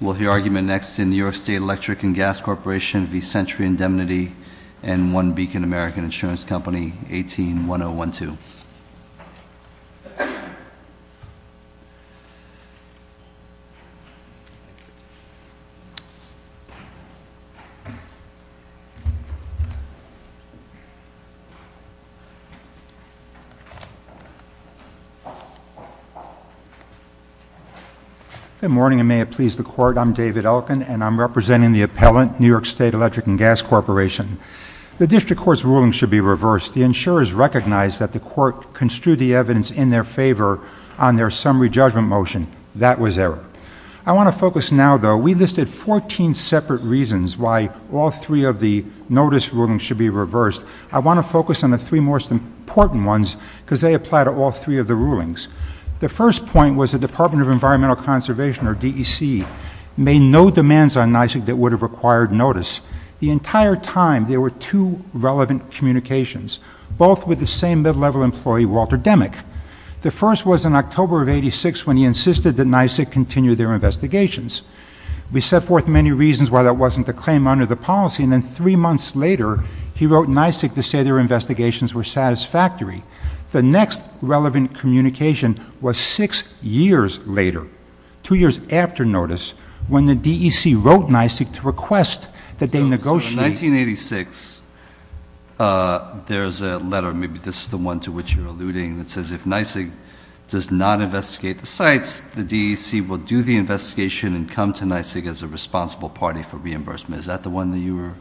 We'll hear argument next in New York State Electric & Gas Corporation v. Century Indemnity and One Beacon American Insurance Company, 18-1012. Good morning, and may it please the Court, I'm David Elkin, and I'm representing the appellant, New York State Electric & Gas Corporation. The District Court's ruling should be reversed. The insurers recognized that the Court construed the evidence in their favor on their summary judgment motion. That was error. I want to focus now, though, we listed 14 separate reasons why all three of the notice rulings should be reversed. I want to focus on the three most important ones because they apply to all three of the rulings. The first point was the Department of Environmental Conservation, or DEC, made no demands on NYSEC that would have required notice. The entire time, there were two relevant communications, both with the same mid-level employee, Walter Demick. The first was in October of 86 when he insisted that NYSEC continue their investigations. We set forth many reasons why that wasn't the claim under the policy, and then three months later, he wrote NYSEC to say their investigations were satisfactory. The next relevant communication was six years later, two years after notice, when the DEC wrote NYSEC to request that they negotiate. So in 1986, there's a letter, maybe this is the one to which you're alluding, that says if NYSEC does not investigate the sites, the DEC will do the investigation and come to NYSEC as a responsible party for reimbursement. Is that the one that you were?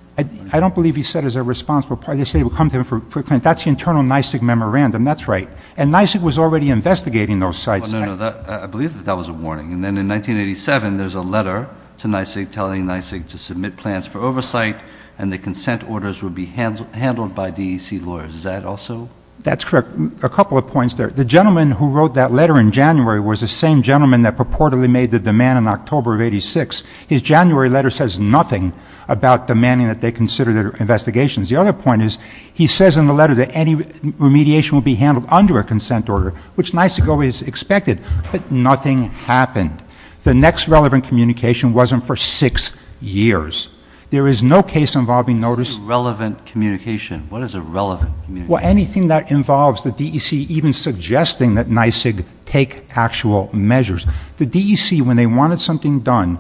I don't believe he said as a responsible party. They say it will come to him for clearance. That's the internal NYSEC memorandum. That's right. And NYSEC was already investigating those sites. No, no, no. I believe that that was a warning. And then in 1987, there's a letter to NYSEC telling NYSEC to submit plans for oversight and the consent orders would be handled by DEC lawyers. Is that also? That's correct. A couple of points there. The gentleman who wrote that letter in January was the same gentleman that purportedly made the demand in October of 86. His January letter says nothing about demanding that they consider their investigations. The other point is, he says in the letter that any remediation will be handled under a consent order, which NYSEC always expected. But nothing happened. The next relevant communication wasn't for six years. There is no case involving notice. Relevant communication. What is a relevant communication? Well, anything that involves the DEC even suggesting that NYSEC take actual measures. The DEC, when they wanted something done,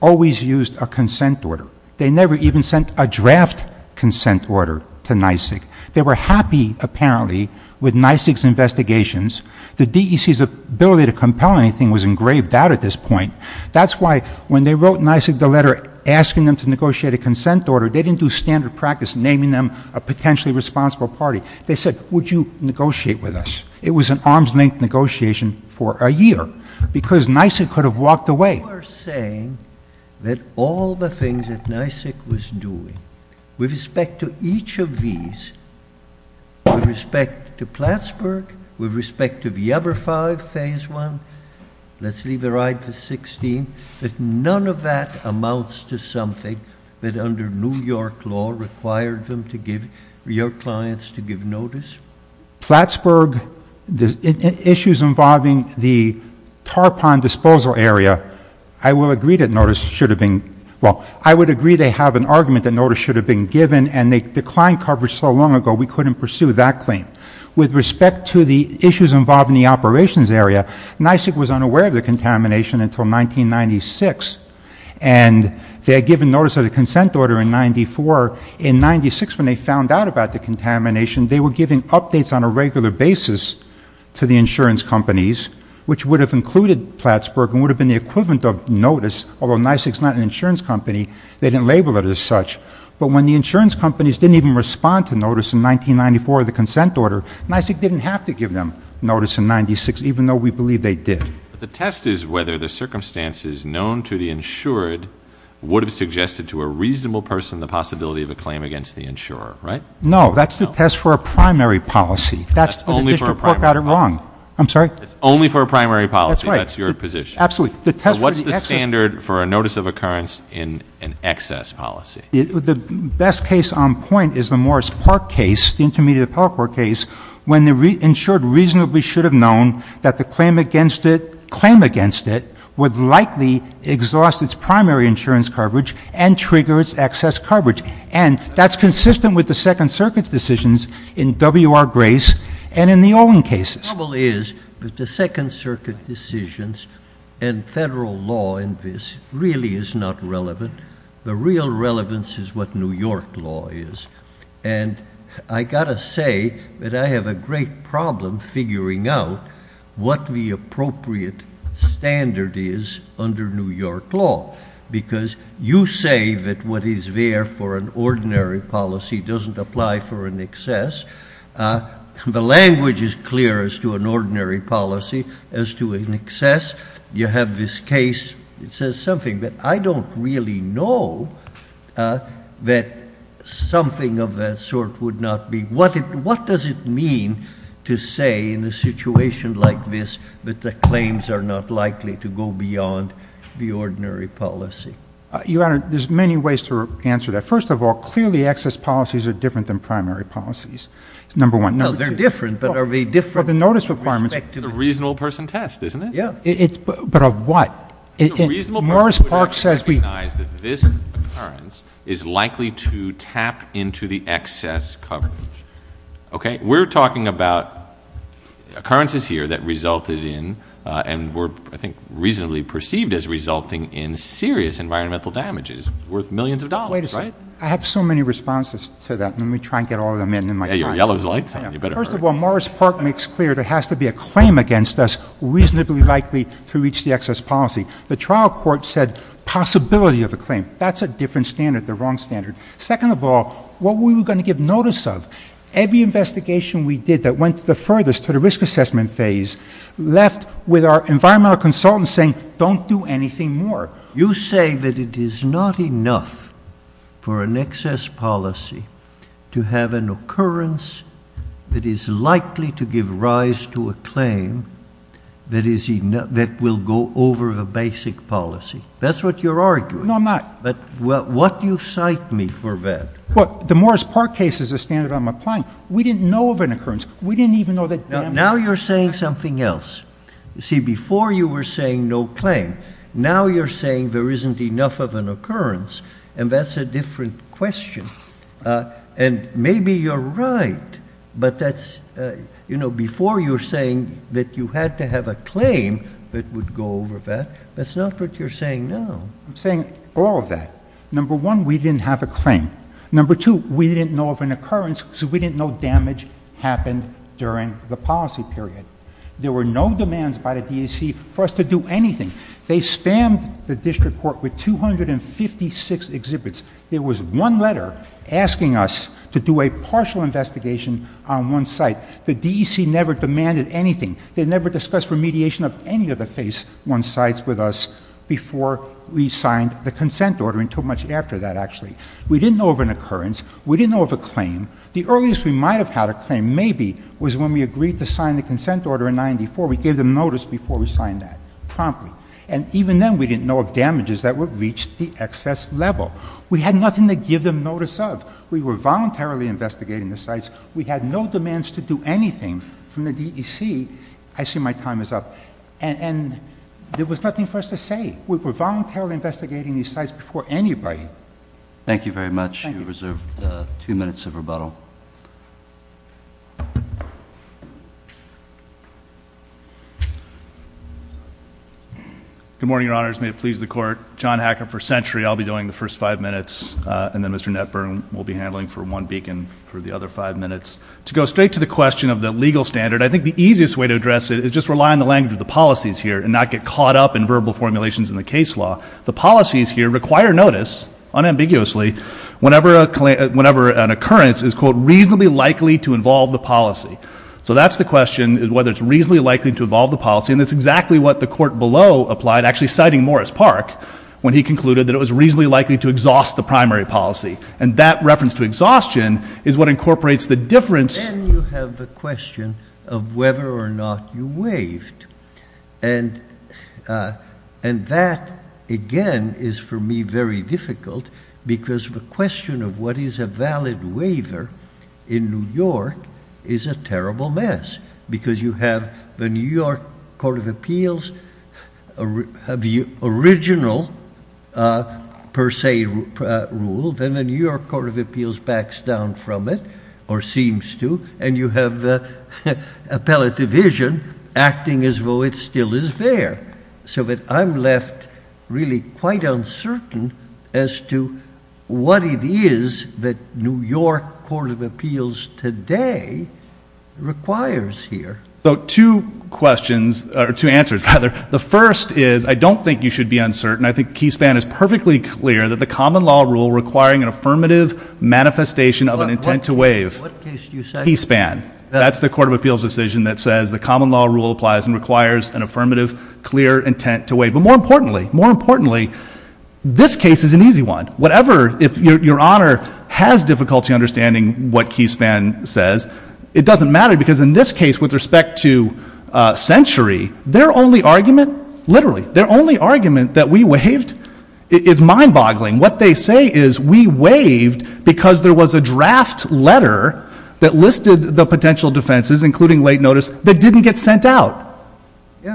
always used a consent order. They never even sent a draft consent order to NYSEC. They were happy, apparently, with NYSEC's investigations. The DEC's ability to compel anything was engraved out at this point. That's why when they wrote NYSEC the letter asking them to negotiate a consent order, they didn't do standard practice naming them a potentially responsible party. They said, would you negotiate with us? It was an arm's length negotiation for a year because NYSEC could have walked away. You are saying that all the things that NYSEC was doing, with respect to each of these, with respect to Plattsburgh, with respect to the other five, phase one, let's leave a right for 16, that none of that amounts to something that under New York law required them to give, New York clients to give notice? Plattsburgh, the issues involving the tarpon disposal area, I will agree that notice should have been, well, I would agree they have an argument that notice should have been given and they declined coverage so long ago we couldn't pursue that claim. With respect to the issues involved in the operations area, NYSEC was unaware of the contamination until 1996. And they had given notice of the consent order in 94. In 96, when they found out about the contamination, they were giving updates on a regular basis to the insurance companies, which would have included Plattsburgh and would have been the equivalent of notice, although NYSEC's not an insurance company. They didn't label it as such. But when the insurance companies didn't even respond to notice in 1994 of the consent order, NYSEC didn't have to give them notice in 96, even though we believe they did. But the test is whether the circumstances known to the insured would have suggested to a reasonable person the possibility of a claim against the insurer, right? No, that's the test for a primary policy. That's only for a primary policy. But the district court got it wrong. I'm sorry? It's only for a primary policy. That's right. That's your position. Absolutely. The test for the excess. What's the standard for a notice of occurrence in an excess policy? The best case on point is the Morris Park case, the intermediate appellate court case, when the insured reasonably should have known that the claim against it would likely exhaust its primary insurance coverage and trigger its excess coverage. And that's consistent with the Second Circuit's decisions in WR Grace and in the Olin cases. The trouble is that the Second Circuit decisions and federal law in this really is not relevant. The real relevance is what New York law is. And I gotta say that I have a great problem figuring out what the appropriate standard is under New York law. Because you say that what is there for an ordinary policy doesn't apply for an excess. The language is clear as to an ordinary policy as to an excess. You have this case. It says something that I don't really know that something of that sort would not be. What does it mean to say in a situation like this that the claims are not likely to go beyond the ordinary policy? Your Honor, there's many ways to answer that. First of all, clearly excess policies are different than primary policies. Number one. No, they're different, but are they different? Well, the notice requirements. The reasonable person test, isn't it? Yeah. But of what? Morris Park says we- Recognize that this occurrence is likely to tap into the excess coverage, okay? We're talking about occurrences here that resulted in, and were I think reasonably perceived as resulting in serious environmental damages worth millions of dollars, right? Wait a second. I have so many responses to that. Let me try and get all of them in in my time. Yeah, your yellow's lights on. You better hurry. First of all, Morris Park makes clear there has to be a claim against us reasonably likely to reach the excess policy. The trial court said possibility of a claim. That's a different standard, the wrong standard. Second of all, what we were going to give notice of. Every investigation we did that went the furthest to the risk assessment phase left with our environmental consultant saying, don't do anything more. You say that it is not enough for an excess policy to have an occurrence that is likely to give rise to a claim that will go over the basic policy. That's what you're arguing. No, I'm not. But what do you cite me for that? Well, the Morris Park case is a standard I'm applying. We didn't know of an occurrence. We didn't even know that- Now you're saying something else. You see, before you were saying no claim. Now you're saying there isn't enough of an occurrence. And that's a different question. And maybe you're right, but that's, you know, before you were saying that you had to have a claim that would go over that. That's not what you're saying now. I'm saying all of that. Number one, we didn't have a claim. Number two, we didn't know of an occurrence because we didn't know damage happened during the policy period. There were no demands by the DAC for us to do anything. They spammed the district court with 256 exhibits. There was one letter asking us to do a partial investigation on one site. The DEC never demanded anything. They never discussed remediation of any of the phase one sites with us before we signed the consent order, until much after that, actually. We didn't know of an occurrence. We didn't know of a claim. The earliest we might have had a claim, maybe, was when we agreed to sign the consent order in 94. We gave them notice before we signed that, promptly. And even then, we didn't know of damages that would reach the excess level. We had nothing to give them notice of. We were voluntarily investigating the sites. We had no demands to do anything from the DEC. I see my time is up. And there was nothing for us to say. We were voluntarily investigating these sites before anybody. Thank you very much. You reserve two minutes of rebuttal. Good morning, your honors. May it please the court. John Hacker for century. I'll be doing the first five minutes. And then Mr. Netburn will be handling for one beacon for the other five minutes. To go straight to the question of the legal standard, I think the easiest way to address it is just rely on the language of the policies here, and not get caught up in verbal formulations in the case law. The policies here require notice, unambiguously, whenever an occurrence is, quote, reasonably likely to involve the policy. So that's the question, whether it's reasonably likely to involve the policy. And that's exactly what the court below applied, actually citing Morris Park, when he concluded that it was reasonably likely to exhaust the primary policy. And that reference to exhaustion is what incorporates the difference. Then you have the question of whether or not you waived. And that, again, is for me very difficult, because the question of what is a valid waiver in New York is a terrible mess. Because you have the New York Court of Appeals have the original, per se, rule. Then the New York Court of Appeals backs down from it, or seems to. And you have the appellate division acting as though it still is there. So that I'm left really quite uncertain as to what it is that New York Court of Appeals today requires here. So two questions, or two answers, rather. The first is, I don't think you should be uncertain. I think Keyspan is perfectly clear that the common law rule requiring an affirmative manifestation of an intent to waive. What case did you say? Keyspan. That's the Court of Appeals decision that says the common law rule applies and requires an affirmative, clear intent to waive. But more importantly, more importantly, this case is an easy one. If your honor has difficulty understanding what Keyspan says, it doesn't matter. Because in this case, with respect to Century, their only argument, literally, their only argument that we waived is mind boggling. What they say is we waived because there was a draft letter that listed the potential defenses, including late notice, that didn't get sent out.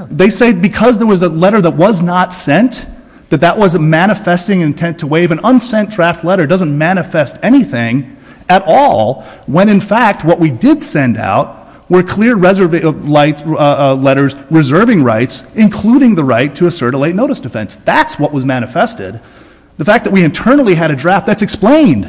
They say because there was a letter that was not sent, that that was a manifesting intent to waive. An unsent draft letter doesn't manifest anything at all when, in fact, what we did send out were clear letters reserving rights, including the right to assert a late notice defense. That's what was manifested. The fact that we internally had a draft, that's explained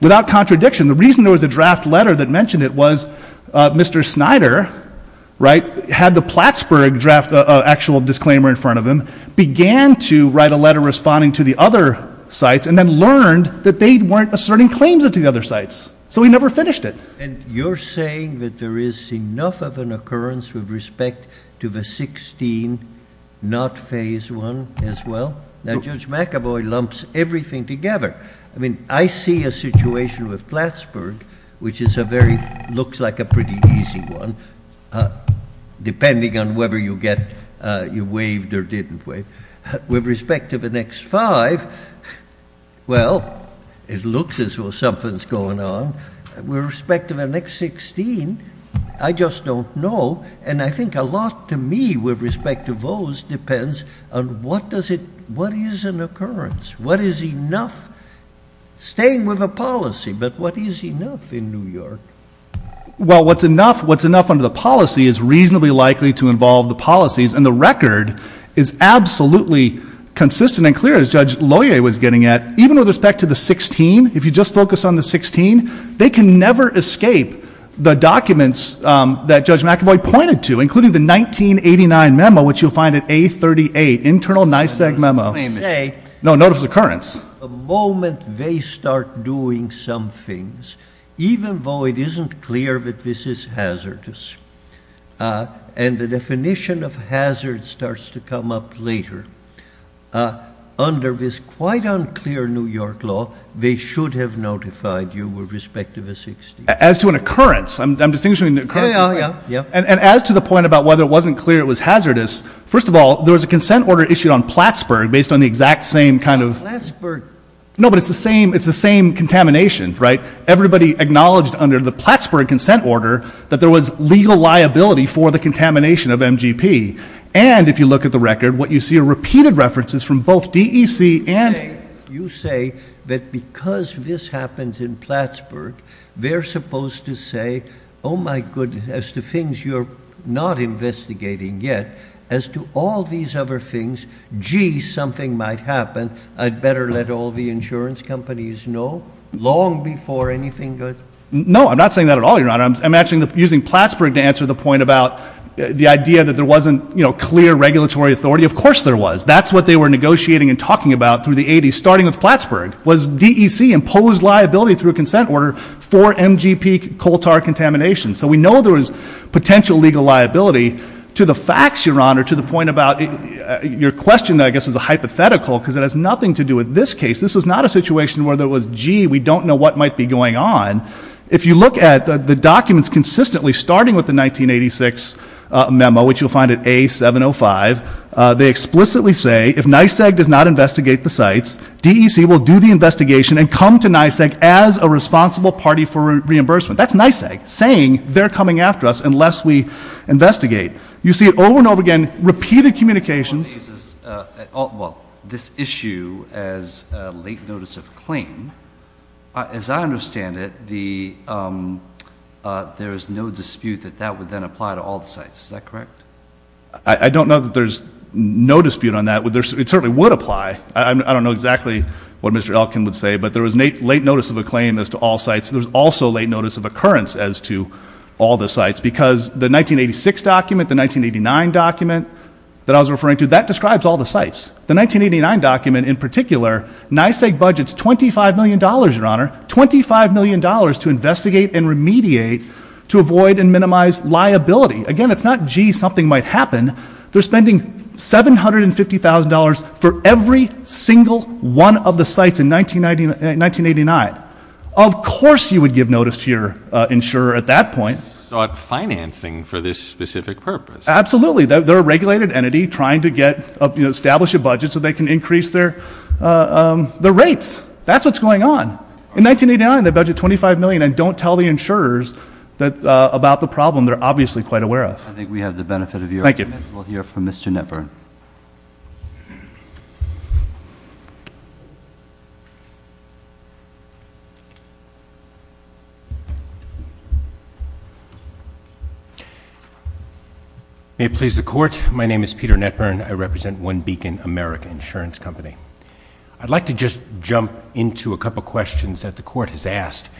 without contradiction. The reason there was a draft letter that mentioned it was Mr. Snyder, right, had the Plattsburgh draft, actual disclaimer in front of him, began to write a letter responding to the other sites, and then learned that they weren't asserting claims to the other sites. So he never finished it. And you're saying that there is enough of an occurrence with respect to the 16, not phase one, as well? Now Judge McAvoy lumps everything together. I mean, I see a situation with Plattsburgh, which is a very, looks like a pretty easy one, depending on whether you waived or didn't waive. With respect to the next five, well, it looks as though something's going on. With respect to the next 16, I just don't know. And I think a lot to me with respect to those depends on what is an occurrence? What is enough? Staying with a policy, but what is enough in New York? Well, what's enough under the policy is reasonably likely to involve the policies. And the record is absolutely consistent and clear, as Judge Loyer was getting at. Even with respect to the 16, if you just focus on the 16, they can never escape the documents that Judge McAvoy pointed to, including the 1989 memo, which you'll find at A38, internal NYSEG memo. No, notice of occurrence. The moment they start doing some things, even though it isn't clear that this is hazardous, and the definition of hazard starts to come up later, under this quite unclear New York law, they should have notified you with respect to the 16. As to an occurrence, I'm distinguishing an occurrence, right? Yeah, yeah, yeah. And as to the point about whether it wasn't clear it was hazardous, first of all, there was a consent order issued on Plattsburgh based on the exact same kind of- Plattsburgh- No, but it's the same contamination, right? Everybody acknowledged under the Plattsburgh consent order that there was legal liability for the contamination of MGP. And if you look at the record, what you see are repeated references from both DEC and- You say that because this happens in Plattsburgh, they're supposed to say, oh my goodness, as to things you're not investigating yet, as to all these other things, gee, something might happen, I'd better let all the insurance companies know, long before anything goes- No, I'm not saying that at all, Your Honor. I'm actually using Plattsburgh to answer the point about the idea that there wasn't clear regulatory authority. Of course there was. That's what they were negotiating and talking about through the 80s, starting with Plattsburgh, was DEC imposed liability through a consent order for MGP coal tar contamination. So we know there was potential legal liability to the facts, Your Honor, to the point about your question, I guess, was a hypothetical, because it has nothing to do with this case. This was not a situation where there was, gee, we don't know what might be going on. If you look at the documents consistently, starting with the 1986 memo, which you'll find at A705, they explicitly say if NYSEG does not investigate the sites, DEC will do the investigation and come to NYSEG as a responsible party for reimbursement. That's NYSEG saying they're coming after us unless we investigate. You see it over and over again, repeated communications. Well, this issue as late notice of claim, as I understand it, there is no dispute that that would then apply to all the sites. Is that correct? I don't know that there's no dispute on that. It certainly would apply. I don't know exactly what Mr. Elkin would say, but there was late notice of a claim as to all sites. There was also late notice of occurrence as to all the sites, because the 1986 document, the 1989 document that I was referring to, that describes all the sites. The 1989 document in particular, NYSEG budgets $25 million, your honor, $25 million to investigate and remediate to avoid and minimize liability. Again, it's not, gee, something might happen. They're spending $750,000 for every single one of the sites in 1989. Of course you would give notice to your insurer at that point. So it's financing for this specific purpose. Absolutely, they're a regulated entity trying to establish a budget so they can increase their rates. That's what's going on. In 1989, they budget $25 million and don't tell the insurers about the problem they're obviously quite aware of. I think we have the benefit of your argument. Thank you. We'll hear from Mr. Netburn. Thank you. May it please the court. My name is Peter Netburn. I represent One Beacon American Insurance Company. I'd like to just jump into a couple questions that the court has asked.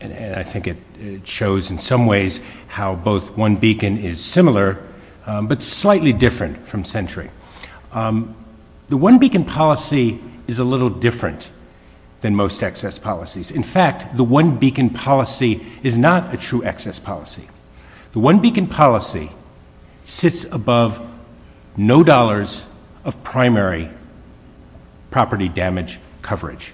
And I think it shows in some ways how both One Beacon is similar, but slightly different from Century. The One Beacon policy is a little different than most excess policies. In fact, the One Beacon policy is not a true excess policy. The One Beacon policy sits above no dollars of primary property damage coverage.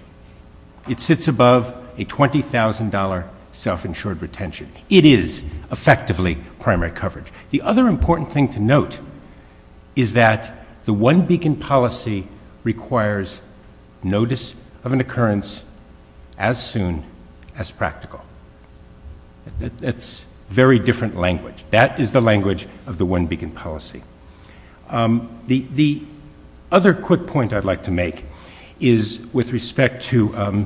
It sits above a $20,000 self-insured retention. It is effectively primary coverage. The other important thing to note is that the One Beacon policy requires notice of an occurrence as soon as practical. That's very different language. That is the language of the One Beacon policy. The other quick point I'd like to make is with respect to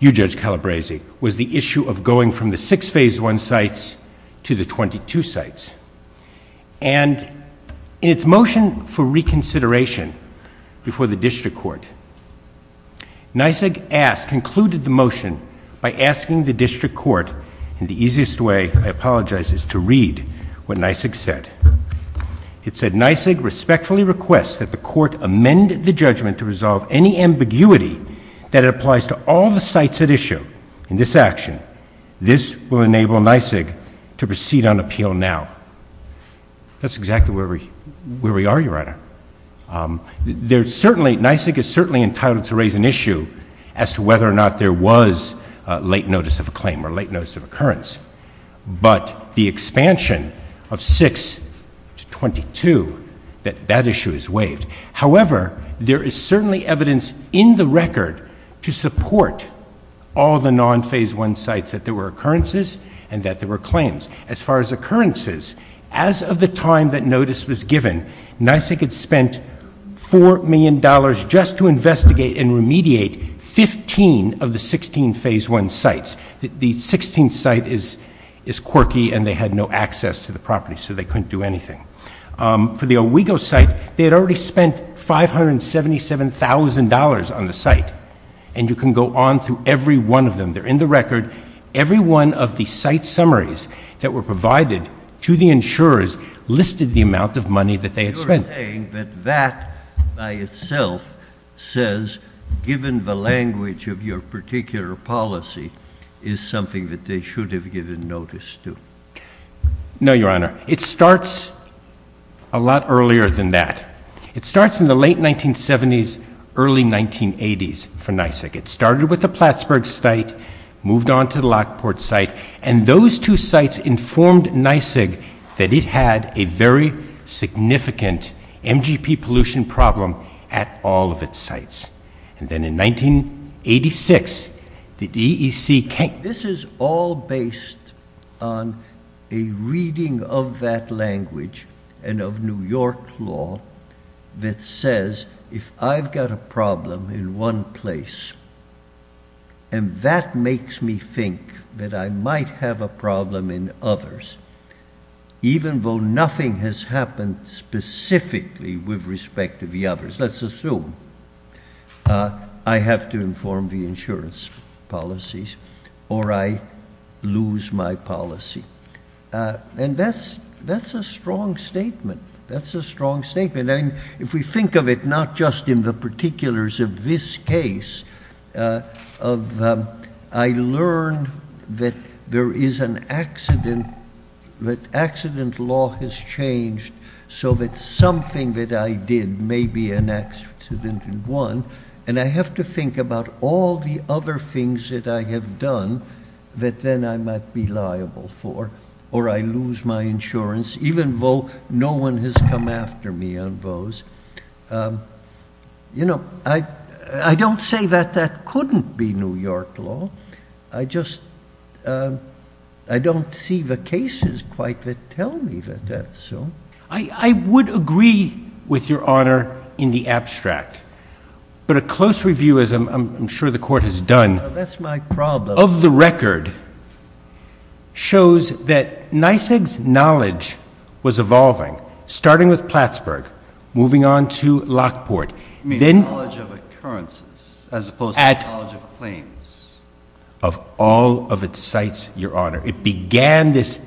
you, Judge Calabresi, was the issue of going from the six phase one sites to the 22 sites. And in its motion for reconsideration before the district court, NYSIG concluded the motion by asking the district court, and the easiest way, I apologize, is to read what NYSIG said. It said, NYSIG respectfully requests that the court amend the judgment to resolve any ambiguity that applies to all the sites at issue. In this action, this will enable NYSIG to proceed on appeal now. That's exactly where we are, Your Honor. There's certainly, NYSIG is certainly entitled to raise an issue as to whether or not there was late notice of a claim or late notice of occurrence. But the expansion of six to 22, that issue is waived. However, there is certainly evidence in the record to support all the non-phase one sites that there were occurrences and that there were claims. As far as occurrences, as of the time that notice was given, NYSIG had spent $4 million just to investigate and remediate 15 of the 16 phase one sites. The 16th site is quirky and they had no access to the property, so they couldn't do anything. For the Owego site, they had already spent $577,000 on the site. And you can go on through every one of them. They're in the record. Every one of the site summaries that were provided to the insurers listed the amount of money that they had spent. You're saying that that by itself says, given the language of your particular policy, is something that they should have given notice to. No, Your Honor. It starts a lot earlier than that. It starts in the late 1970s, early 1980s for NYSIG. It started with the Plattsburgh site, moved on to the Lockport site, and those two sites informed NYSIG that it had a very significant MGP pollution problem at all of its sites. And then in 1986, the DEC came. This is all based on a reading of that language and of New York law that says, if I've got a problem in one place, and that makes me think that I might have a problem in others, even though nothing has happened specifically with respect to the others. Let's assume I have to inform the insurance policies or I lose my policy. And that's a strong statement. That's a strong statement. If we think of it, not just in the particulars of this case, I learned that there is an accident, that accident law has changed, so that something that I did may be an accident in one, and I have to think about all the other things that I have done that then I might be liable for, or I lose my insurance, even though no one has come after me on those. You know, I don't say that that couldn't be New York law. I just, I don't see the cases quite that tell me that that's so. I would agree with your honor in the abstract, but a close review, as I'm sure the court has done. That's my problem. Of the record, shows that NYSEG's knowledge was evolving, starting with Plattsburgh, moving on to Lockport. You mean knowledge of occurrences, as opposed to knowledge of claims? Of all of its sites, your honor. It began this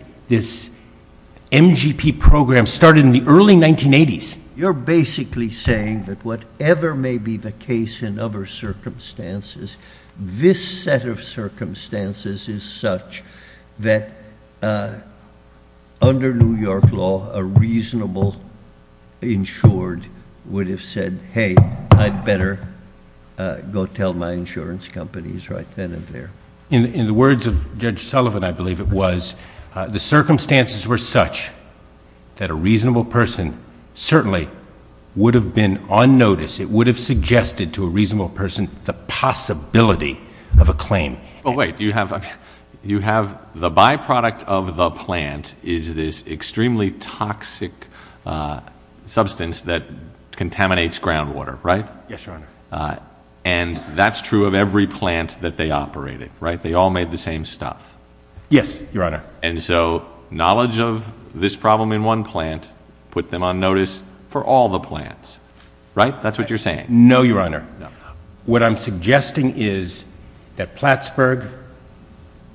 MGP program, started in the early 1980s. You're basically saying that whatever may be the case in other circumstances, this set of circumstances is such that under New York law, a reasonable insured would have said, hey, I'd better go tell my insurance companies right then and there. In the words of Judge Sullivan, I believe it was, the circumstances were such that a reasonable person certainly would have been on notice. the possibility of a claim. Oh wait, you have the byproduct of the plant is this extremely toxic substance that contaminates groundwater, right? Yes, your honor. And that's true of every plant that they operated, right? They all made the same stuff. Yes, your honor. And so knowledge of this problem in one plant put them on notice for all the plants, right? That's what you're saying. No, your honor. What I'm suggesting is that Plattsburgh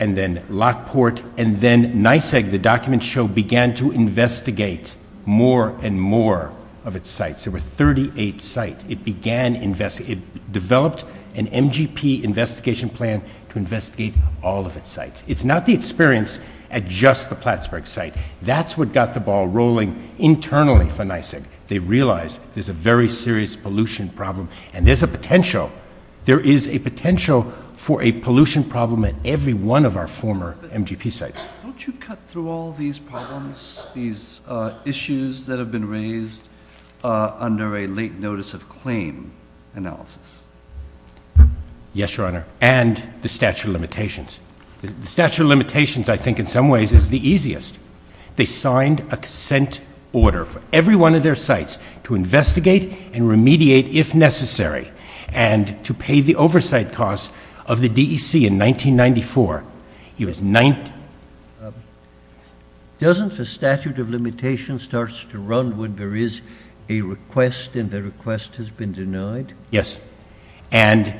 and then Lockport and then NYSEG, the document show began to investigate more and more of its sites. There were 38 sites. It began invest, it developed an MGP investigation plan to investigate all of its sites. It's not the experience at just the Plattsburgh site. That's what got the ball rolling internally for NYSEG. They realized there's a very serious pollution problem. And there's a potential. There is a potential for a pollution problem at every one of our former MGP sites. Don't you cut through all these problems, these issues that have been raised under a late notice of claim analysis? Yes, your honor. And the statute of limitations. The statute of limitations I think in some ways is the easiest. They signed a consent order for every one of their sites to investigate and remediate if necessary and to pay the oversight costs of the DEC in 1994. He was 19. Doesn't the statute of limitations starts to run when there is a request and the request has been denied? Yes. And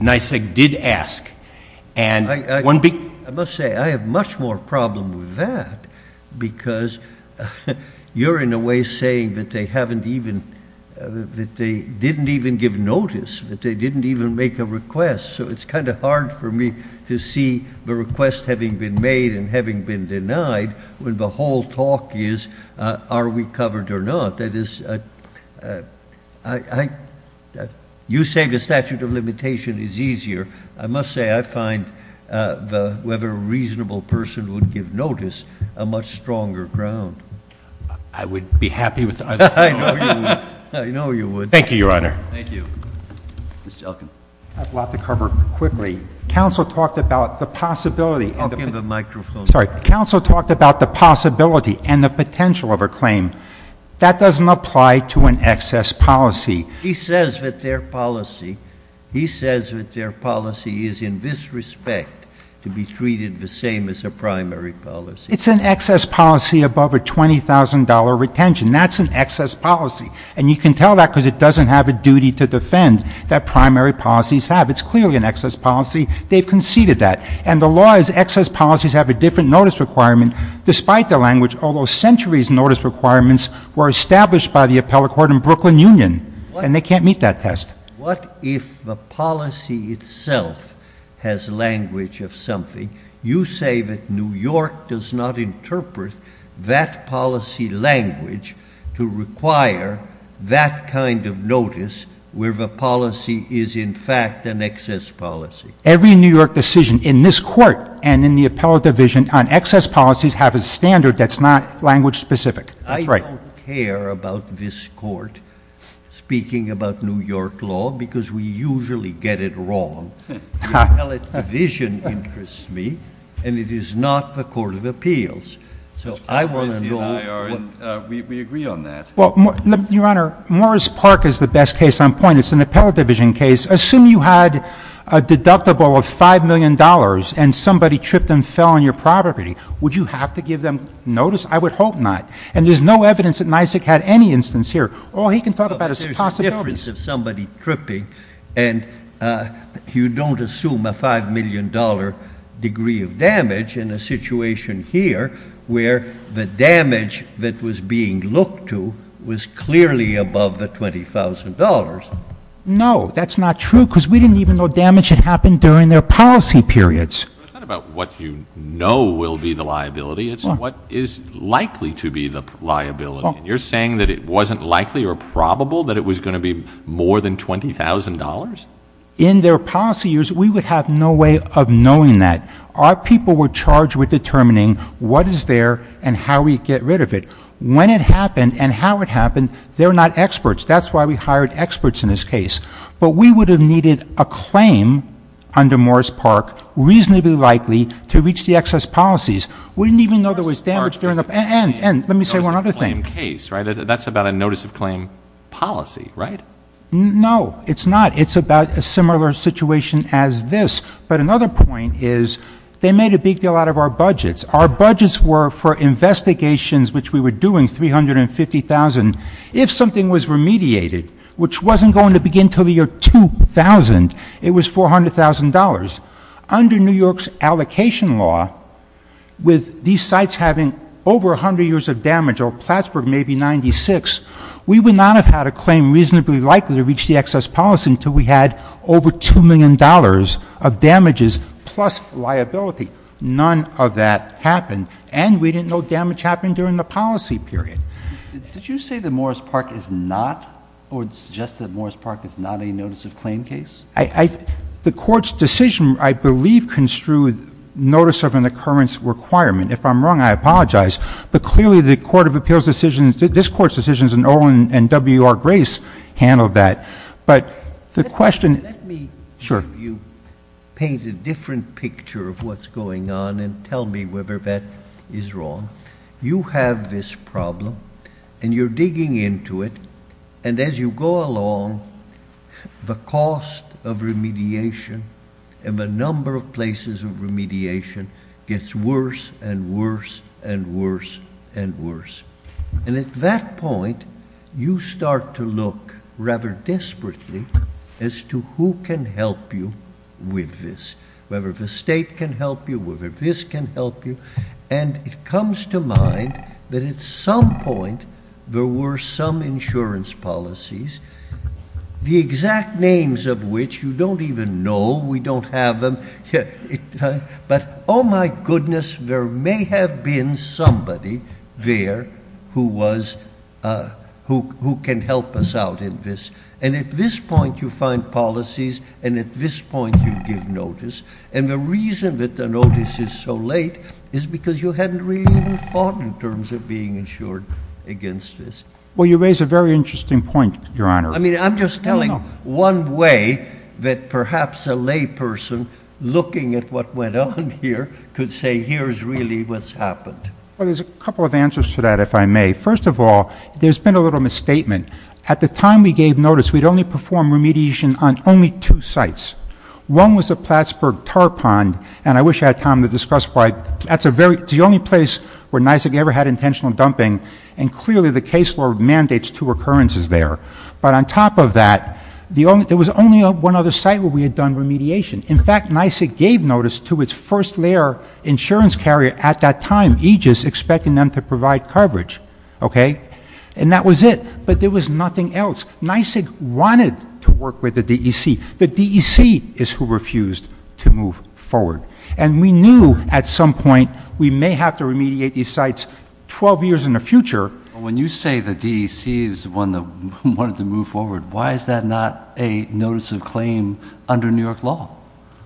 NYSEG did ask. And one big. I must say, I have much more problem with that because you're in a way saying that they haven't even, that they didn't even give notice, that they didn't even make a request. So it's kind of hard for me to see the request having been made and having been denied when the whole talk is, are we covered or not? That is, you say the statute of limitation is easier. I must say, I find whether a reasonable person would give notice a much stronger ground. I would be happy with either. I know you would. Thank you, your honor. Thank you. Mr. Elkin. I have a lot to cover quickly. Counsel talked about the possibility. Elkin, the microphone. Sorry, counsel talked about the possibility and the potential of a claim. That doesn't apply to an excess policy. He says that their policy, he says that their policy is in this respect to be treated the same as a primary policy. It's an excess policy above a $20,000 retention. That's an excess policy. And you can tell that because it doesn't have a duty to defend that primary policies have. It's clearly an excess policy. They've conceded that. And the law is excess policies have a different notice requirement despite the language. Although centuries notice requirements were established by the appellate court in Brooklyn Union and they can't meet that test. What if the policy itself has language of something? You say that New York does not interpret that policy language to require that kind of notice where the policy is in fact an excess policy. Every New York decision in this court and in the appellate division on excess policies have a standard that's not language specific. That's right. I don't care about this court speaking about New York law because we usually get it wrong. The appellate division interests me and it is not the court of appeals. So I want to know what... We agree on that. Well, your honor, Morris Park is the best case on point. It's an appellate division case. Assume you had a deductible of $5 million and somebody tripped and fell on your property. Would you have to give them notice? I would hope not. And there's no evidence that Nisic had any instance here. Oh, he can talk about his possibilities. There's a difference of somebody tripping and you don't assume a $5 million degree of damage in a situation here where the damage that was being looked to was clearly above the $20,000. No, that's not true because we didn't even know damage had happened during their policy periods. It's not about what you know will be the liability. It's what is likely to be the liability. You're saying that it wasn't likely or probable that it was going to be more than $20,000? In their policy years, we would have no way of knowing that. Our people were charged with determining what is there and how we get rid of it. When it happened and how it happened, they're not experts. That's why we hired experts in this case. But we would have needed a claim under Morris Park reasonably likely to reach the excess policies. We didn't even know there was damage during the... And let me say one other thing. Claim case, right? That's about a notice of claim policy, right? No, it's not. It's about a similar situation as this. But another point is they made a big deal out of our budgets. Our budgets were for investigations, which we were doing 350,000. If something was remediated, which wasn't going to begin till the year 2000, it was $400,000. Under New York's allocation law, with these sites having over a hundred years of damage or Plattsburgh maybe 96, we would not have had a claim reasonably likely to reach the excess policy until we had over $2 million of damages plus liability. None of that happened. And we didn't know damage happened during the policy period. Did you say that Morris Park is not or suggest that Morris Park is not a notice of claim case? The court's decision, I believe, didn't construe notice of an occurrence requirement. If I'm wrong, I apologize. But clearly the Court of Appeals decisions, this court's decisions and Owen and W.R. Grace handled that. But the question- Let me show you, paint a different picture of what's going on and tell me whether that is wrong. You have this problem and you're digging into it. And as you go along, the cost of remediation and the number of places of remediation gets worse and worse and worse and worse. And at that point, you start to look rather desperately as to who can help you with this, whether the state can help you, whether this can help you. And it comes to mind that at some point, there were some insurance policies, the exact names of which you don't even know, we don't have them. But oh my goodness, there may have been somebody there who was, who can help us out in this. And at this point, you find policies. And at this point, you give notice. is because you hadn't really even thought in terms of being insured against this. Well, you raise a very interesting point, Your Honor. I mean, I'm just telling one way that perhaps a lay person looking at what went on here could say, here's really what's happened. Well, there's a couple of answers to that, if I may. First of all, there's been a little misstatement. At the time we gave notice, we'd only performed remediation on only two sites. One was the Plattsburgh tar pond. And I wish I had time to discuss why. That's a very, it's the only place where NYSIG ever had intentional dumping. And clearly the case law mandates two occurrences there. But on top of that, there was only one other site where we had done remediation. In fact, NYSIG gave notice to its first layer insurance carrier at that time, Aegis, expecting them to provide coverage, okay? And that was it. But there was nothing else. NYSIG wanted to work with the DEC. The DEC is who refused to move forward. And we knew at some point, we may have to remediate these sites 12 years in the future. When you say the DEC is the one that wanted to move forward, why is that not a notice of claim under New York law?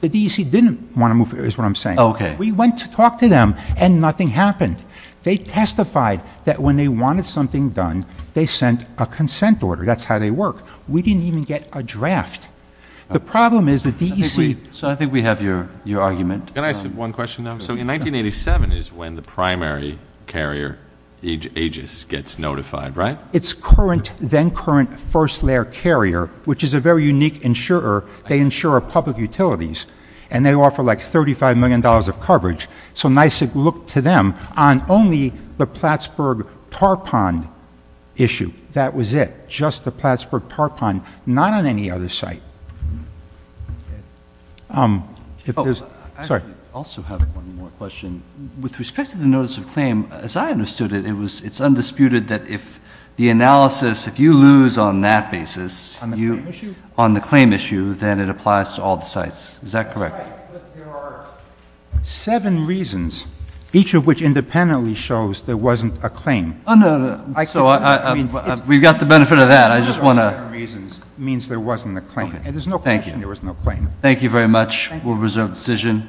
The DEC didn't want to move, is what I'm saying. We went to talk to them and nothing happened. They testified that when they wanted something done, they sent a consent order. That's how they work. We didn't even get a draft. The problem is the DEC- So I think we have your argument. Can I ask one question now? So in 1987 is when the primary carrier, Aegis, gets notified, right? It's current, then current first layer carrier, which is a very unique insurer. They insure public utilities and they offer like $35 million of coverage. So NYSIG looked to them on only the Plattsburgh tarpon issue. That was it. Just the Plattsburgh tarpon, not on any other site. If there's- Sorry. I also have one more question. With respect to the notice of claim, as I understood it, it's undisputed that if the analysis, if you lose on that basis- On the claim issue? On the claim issue, then it applies to all the sites. Is that correct? That's right, but there are seven reasons, each of which independently shows there wasn't a claim. Oh, no, no. So we've got the benefit of that. I just want to- Seven reasons means there wasn't a claim. There's no question there was no claim. Thank you very much. We'll reserve the decision.